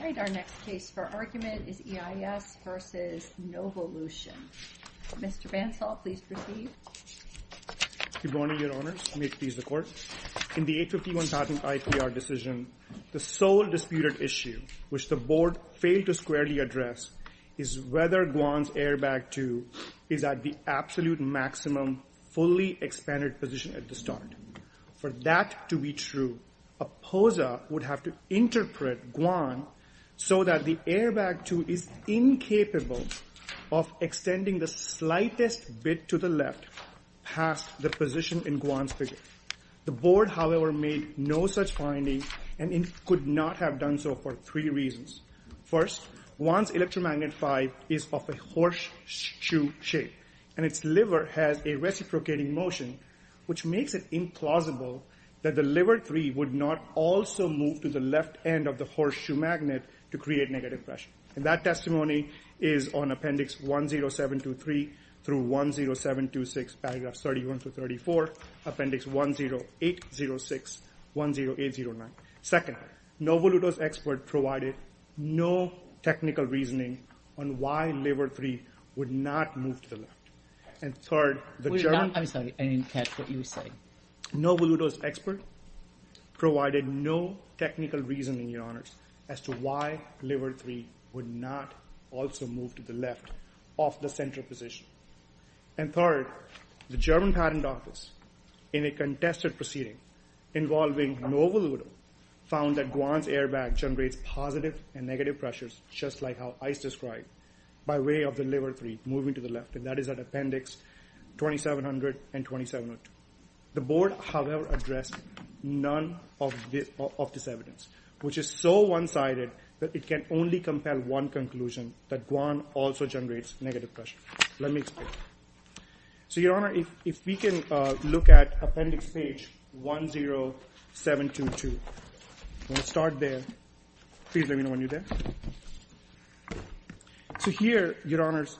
Good morning, Your Honors. May it please the Court. In the 851 patent IPR decision, the sole disputed issue, which the Board failed to squarely address, is whether Guan's airbag 2 is at the absolute maximum fully expanded position at the start. For that to be true, a POSA would have to interpret Guan so that the airbag 2 is incapable of extending the slightest bit to the left past the position in Guan's figure. The Board, however, made no such finding and could not have done so for three reasons. First, Guan's electromagnet 5 is of a horseshoe shape, and its liver has a reciprocating motion, which makes it implausible that the liver 3 would not also move to the left end of the horseshoe magnet to create negative pressure. And that testimony is on Appendix 10723 through 10726, paragraphs 31 through 34, Appendix 10806, 10809. Second, Novoluto's expert provided no technical reasoning on why liver 3 would not move to the left. And third, the German— Novoluto's expert provided no technical reasoning, Your Honors, as to why liver 3 would not also move to the left of the center position. And third, the German Patent Office, in a contested proceeding involving Novoluto, found that Guan's airbag generates positive and negative pressures, just like how ICE described, by way of the liver 3 moving to the left. And that is at Appendix 2700 and 2702. The Board, however, addressed none of this evidence, which is so one-sided that it can only compel one conclusion, that Guan also generates negative pressure. Let me explain. So, Your Honor, if we can look at Appendix 10722. I'm going to start there. Please let me know when you're there. So here, Your Honors,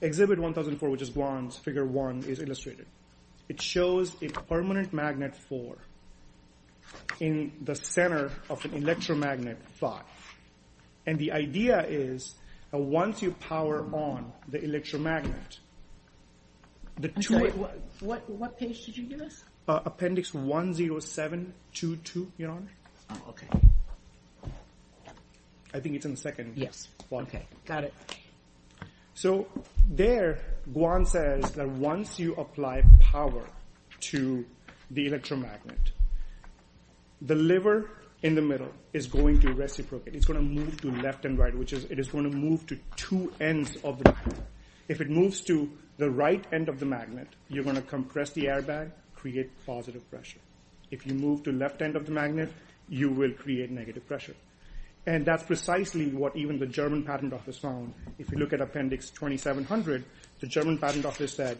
Exhibit 1004, which is Guan's Figure 1, is illustrated. It shows a permanent magnet 4 in the center of an electromagnet 5. And the idea is that once you power on the electromagnet, the two... What page did you give us? Appendix 10722, Your Honor. Oh, okay. I think it's in the second. Yes. Okay, got it. So there, Guan says that once you apply power to the electromagnet, the liver in the middle is going to reciprocate. It's going to move to left and right, which is, it is going to move to two ends of the magnet. If it moves to the right end of the magnet, you're going to compress the airbag, create positive pressure. If you move to the left end of the magnet, you will create negative pressure. And that's precisely what even the German Patent Office found. If you look at Appendix 2700, the German Patent Office said,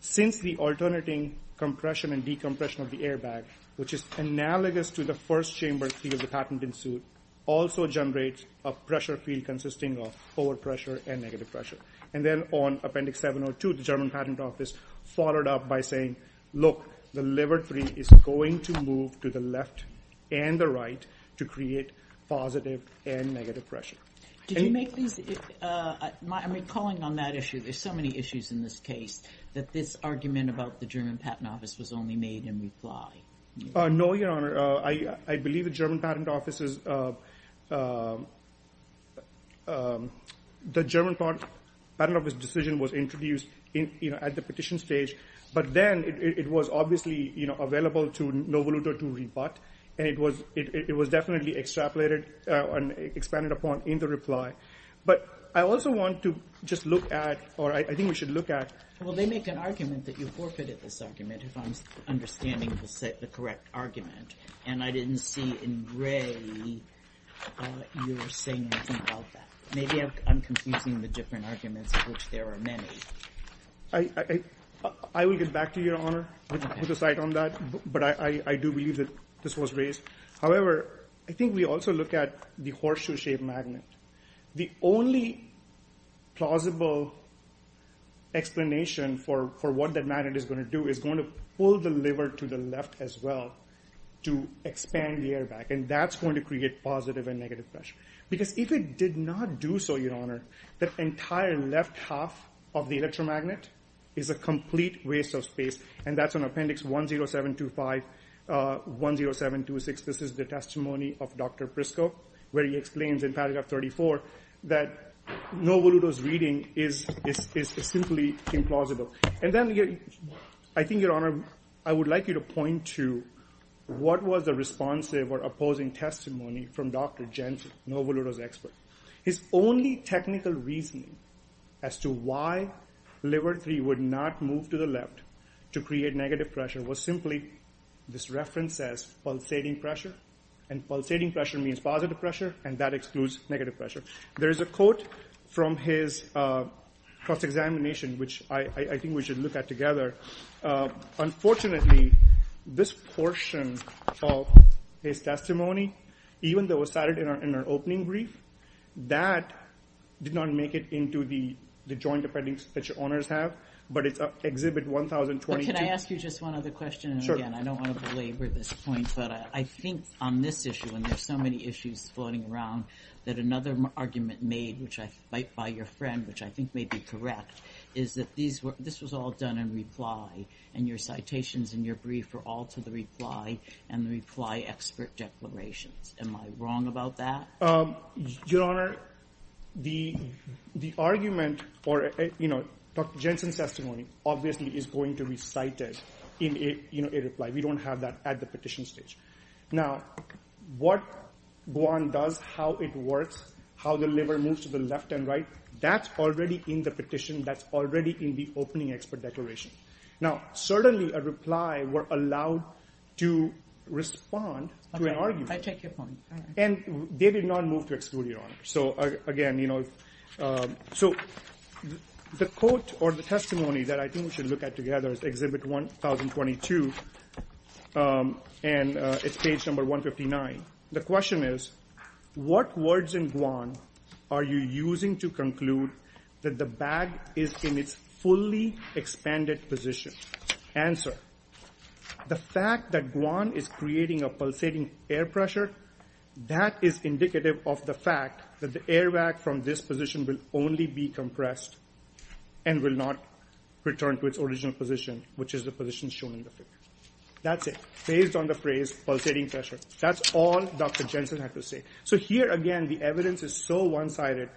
since the alternating compression and decompression of the airbag, which is analogous to the first chamber of the patent in suit, also generates a pressure field consisting of overpressure and negative pressure. And then on Appendix 702, the German Patent Office followed up by saying, look, the liver tree is going to move to the left and the right to create positive and negative pressure. Did you make these... I'm recalling on that issue, there's so many issues in this case, that this argument about the German Patent Office's... the German Patent Office's decision was introduced at the petition stage, but then it was obviously available to Novo Luto to rebut, and it was definitely extrapolated and expanded upon in the reply. But I also want to just look at, or I think we should look at... Well, they make an argument that you forfeited this argument, if I'm seeing in gray, you're saying something about that. Maybe I'm confusing the different arguments, which there are many. I will get back to you, Your Honor, with a side on that, but I do believe that this was raised. However, I think we also look at the horseshoe-shaped magnet. The only plausible explanation for what that magnet is going to do is going to pull the liver to the left as well to expand the air back, and that's going to create positive and negative pressure. Because if it did not do so, Your Honor, that entire left half of the electromagnet is a complete waste of space, and that's on Appendix 10725, 10726. This is the testimony of Dr. Prisco, where he explains in paragraph 34 that Novo Luto's testimony came plausible. And then, I think, Your Honor, I would like you to point to what was the responsive or opposing testimony from Dr. Jensen, Novo Luto's expert. His only technical reasoning as to why liver 3 would not move to the left to create negative pressure was simply this reference as pulsating pressure, and pulsating pressure means positive pressure, and that excludes negative pressure. There is a quote from his cross-examination, which I think we should look at together. Unfortunately, this portion of his testimony, even though it was cited in our opening brief, that did not make it into the joint appendix that Your Honors have, but it's Exhibit 1022. Can I ask you just one other question? I don't want to belabor this point, but I think on this argument made by your friend, which I think may be correct, is that this was all done in reply, and your citations in your brief are all to the reply and the reply expert declarations. Am I wrong about that? Your Honor, the argument or Dr. Jensen's testimony, obviously, is going to be cited in a reply. We don't have that at the petition stage. Now, what Goan does, how it works, how the liver moves to the left and right, that's already in the petition. That's already in the opening expert declaration. Now, certainly, a reply were allowed to respond to an argument. I take your point. And they did not move to exclude, Your Honor. So again, you know, so the quote or the testimony that I think we should look at together is Exhibit 1022, and it's page number 159. The question is, what words in Goan are you using to conclude that the bag is in its fully expanded position? Answer, the fact that Goan is creating a pulsating air pressure, that is indicative of the fact that the airbag from this position will only be compressed and will not return to its original position, which is the position shown in the figure. That's it. Based on the phrase pulsating pressure. That's all Dr. Jensen had to say. So here, again, the evidence is so one-sided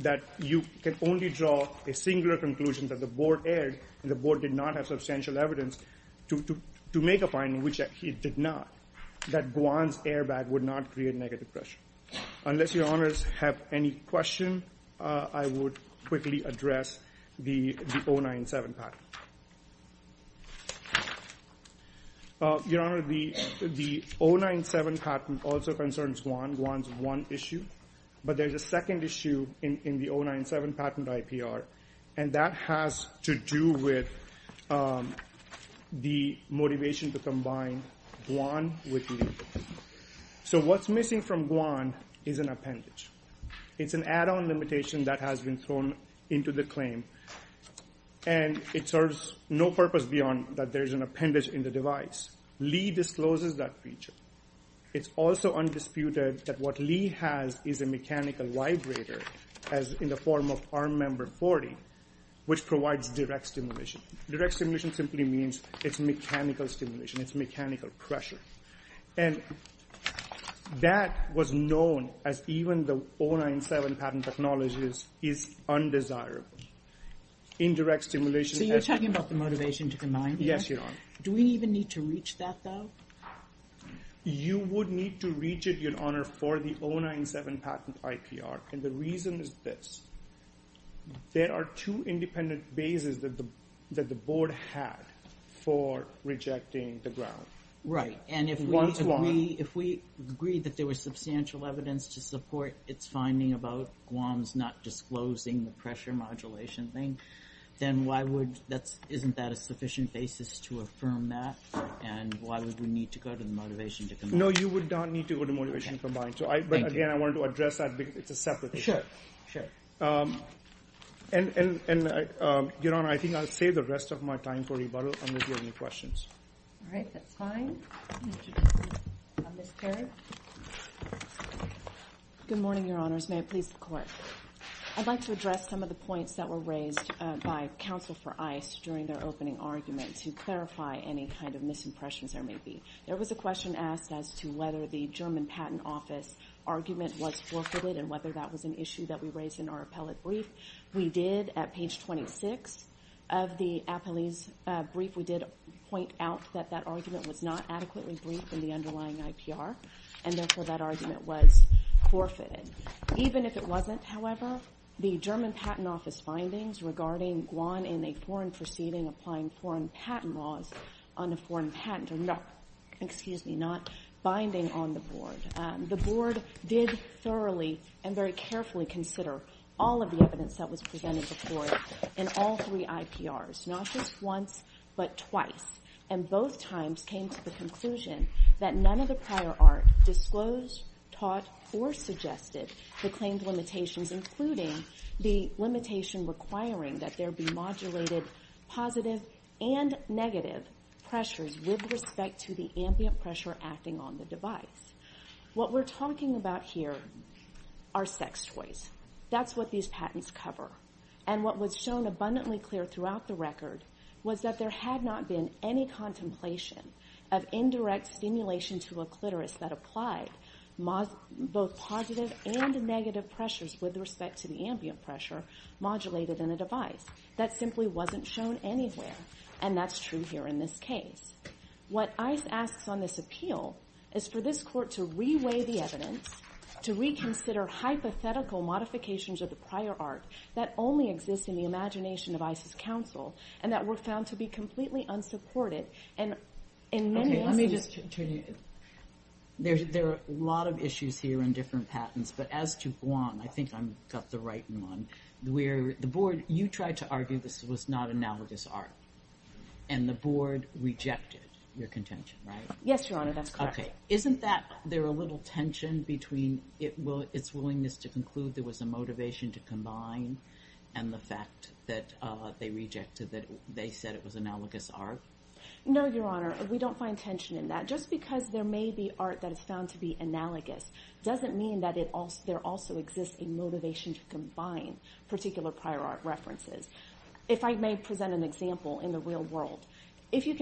that you can only draw a singular conclusion that the Board erred and the Board did not have substantial evidence to make a finding, which it did not, that Goan's airbag would not create negative pressure. Unless Your Honors have any question, I would quickly address the 097 patent. Your Honor, the 097 patent also concerns Goan. Goan's one issue, but there's a second issue in the 097 patent IPR, and that has to do with the motivation to combine Goan with legal. So what's missing from Goan is an appendage. It's an add-on limitation that has been thrown into the claim, and it serves no purpose beyond that there's an appendage in the device. Lee discloses that feature. It's also undisputed that what Lee has is a mechanical vibrator, as in the form of Arm Member 40, which provides direct stimulation. Direct stimulation simply means it's mechanical stimulation. It's mechanical pressure. And that was known as even the 097 patent acknowledges is undesirable. Indirect stimulation... So you're talking about the motivation to combine? Yes, Your Honor. Do we even need to reach that, though? You would need to reach it, Your Honor, for the 097 patent IPR, and the reason is this. There are two independent bases that the Board had for rejecting the ground. Right, and if we agree that there was substantial evidence to support its finding about Goan's not disclosing the pressure modulation thing, then isn't that a sufficient basis to affirm that, and why would we need to go to the motivation to combine? No, you would not need to go to motivation to combine, but again, I wanted to address that because it's a separate issue. Sure, sure. And Your Honor, I think I'll save the rest of my time for rebuttal, and if you have any questions. All right, that's fine. Ms. Terry? Good morning, Your Honors. May it please the Court. I'd like to address some of the points that were raised by counsel for ICE during their opening argument to clarify any kind of misimpressions there may be. There was a question asked as to whether the German Patent Office argument was forfeited, and whether that was an issue that we raised in our appellate brief. We did, at page 26 of the brief, we did point out that that argument was not adequately briefed in the underlying IPR, and therefore that argument was forfeited. Even if it wasn't, however, the German Patent Office findings regarding Goan in a foreign proceeding applying foreign patent laws on a foreign patent, or no, excuse me, not binding on the Board. The Board did thoroughly and very carefully consider all of the evidence that was presented before it in all three IPRs, not just once, but twice, and both times came to the conclusion that none of the prior art disclosed, taught, or suggested the claimed limitations, including the limitation requiring that there be modulated positive and negative pressures with respect to the ambient pressure acting on the device. What we're talking about here are sex toys. That's what these patents cover, and what was shown abundantly clear throughout the record was that there had not been any contemplation of indirect stimulation to a clitoris that applied both positive and negative pressures with respect to the ambient pressure modulated in a device. That simply wasn't shown anywhere, and that's true here in this case. What to re-weigh the evidence, to reconsider hypothetical modifications of the prior art that only exists in the imagination of ICE's counsel, and that were found to be completely unsupported, and in many instances... Okay, let me just turn you... There are a lot of issues here in different patents, but as to Goan, I think I've got the right one. Where the Board, you tried to argue this was not analogous art, and the Board rejected your argument. Isn't that there a little tension between its willingness to conclude there was a motivation to combine, and the fact that they rejected that they said it was analogous art? No, Your Honor, we don't find tension in that. Just because there may be art that is found to be analogous doesn't mean that there also exists a motivation to combine particular prior art references. If I may present an example in the real world, if you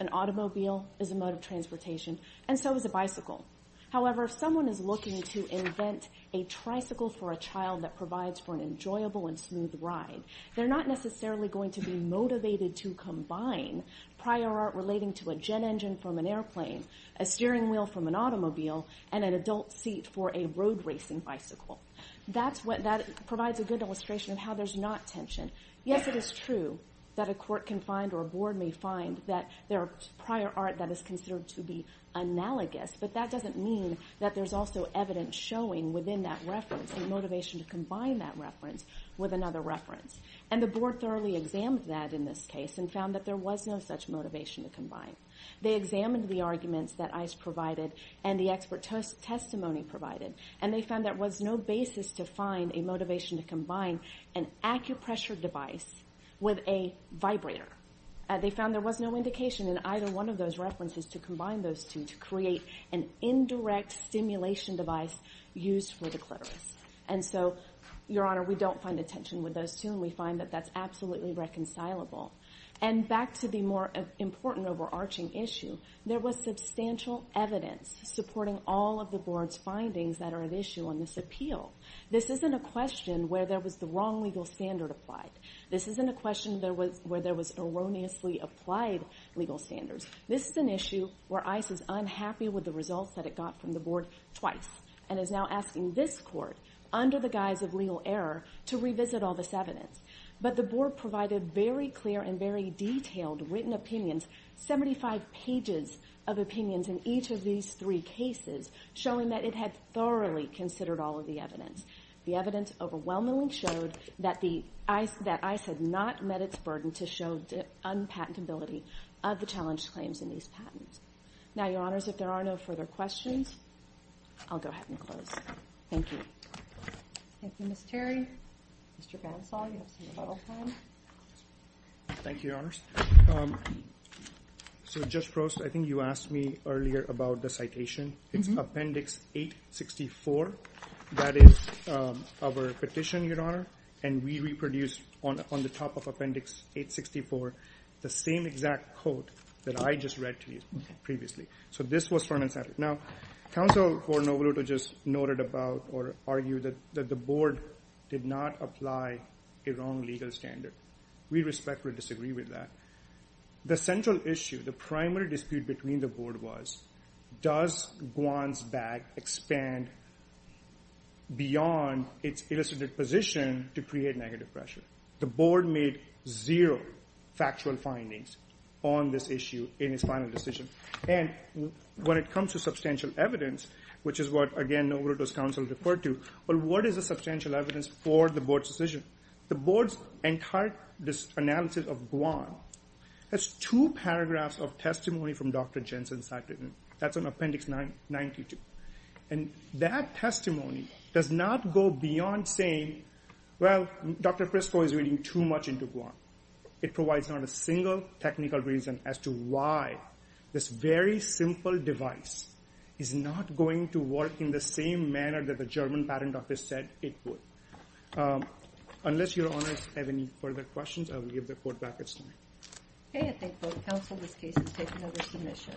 an automobile is a mode of transportation, and so is a bicycle. However, if someone is looking to invent a tricycle for a child that provides for an enjoyable and smooth ride, they're not necessarily going to be motivated to combine prior art relating to a jet engine from an airplane, a steering wheel from an automobile, and an adult seat for a road racing bicycle. That provides a good illustration of how there's not tension. Yes, it is true that a court can find, or a Board may find, that there are prior art that is considered to be analogous, but that doesn't mean that there's also evidence showing within that reference a motivation to combine that reference with another reference. And the Board thoroughly examined that in this case, and found that there was no such motivation to combine. They examined the arguments that ICE provided, and the expert testimony provided, and they found there was no basis to find a motivation to combine an acupressure device with a vibrator. They found there was no indication in either one of those references to combine those two to create an indirect stimulation device used for the clitoris. And so, Your Honor, we don't find a tension with those two, and we find that that's absolutely reconcilable. And back to the more important overarching issue, there was substantial evidence supporting all of the Board's findings that are at issue on this appeal. This isn't a question where there was the wrong legal standard applied. This isn't a question where there was erroneously applied legal standards. This is an issue where ICE is unhappy with the results that it got from the Board twice, and is now asking this court, under the guise of legal error, to revisit all this evidence. But the Board provided very clear and very detailed written opinions, 75 pages of opinions in each of these three cases, showing that it had thoroughly considered all of the evidence. The evidence overwhelmingly showed that ICE had not met its burden to show the unpatentability of the challenged claims in these patents. Now, Your Honors, if there are no further questions, I'll go ahead and close. Thank you. Thank you, Ms. Terry. Mr. Bonsall, you have some final comments. Thank you, Your Honors. So, Judge Prost, I think you asked me earlier about the citation. It's Appendix 864. That is our petition, Your Honor, and we reproduced on the top of Appendix 864 the same exact quote that I just read to you previously. So this was from an example. Now, Counsel Gordon-Ovado just noted about or argued that the Board did not apply a wrong legal standard. We respectfully disagree with that. The central issue, the primary dispute between the Board was, does Gwant's bag expand beyond its illicit position to create negative pressure? The Board made zero factual findings on this issue in its final decision. And when it comes to substantial evidence, which is what, again, Novoroto's counsel referred to, well, what is the substantial evidence for the Board's decision? The Board's entire analysis of Gwant has two paragraphs of into Gwant. It provides not a single technical reason as to why this very simple device is not going to work in the same manner that the German Patent Office said it would. Unless Your Honors have any further questions, I will give the court back its time. Okay, I thank both counsel. This case is taken under submission.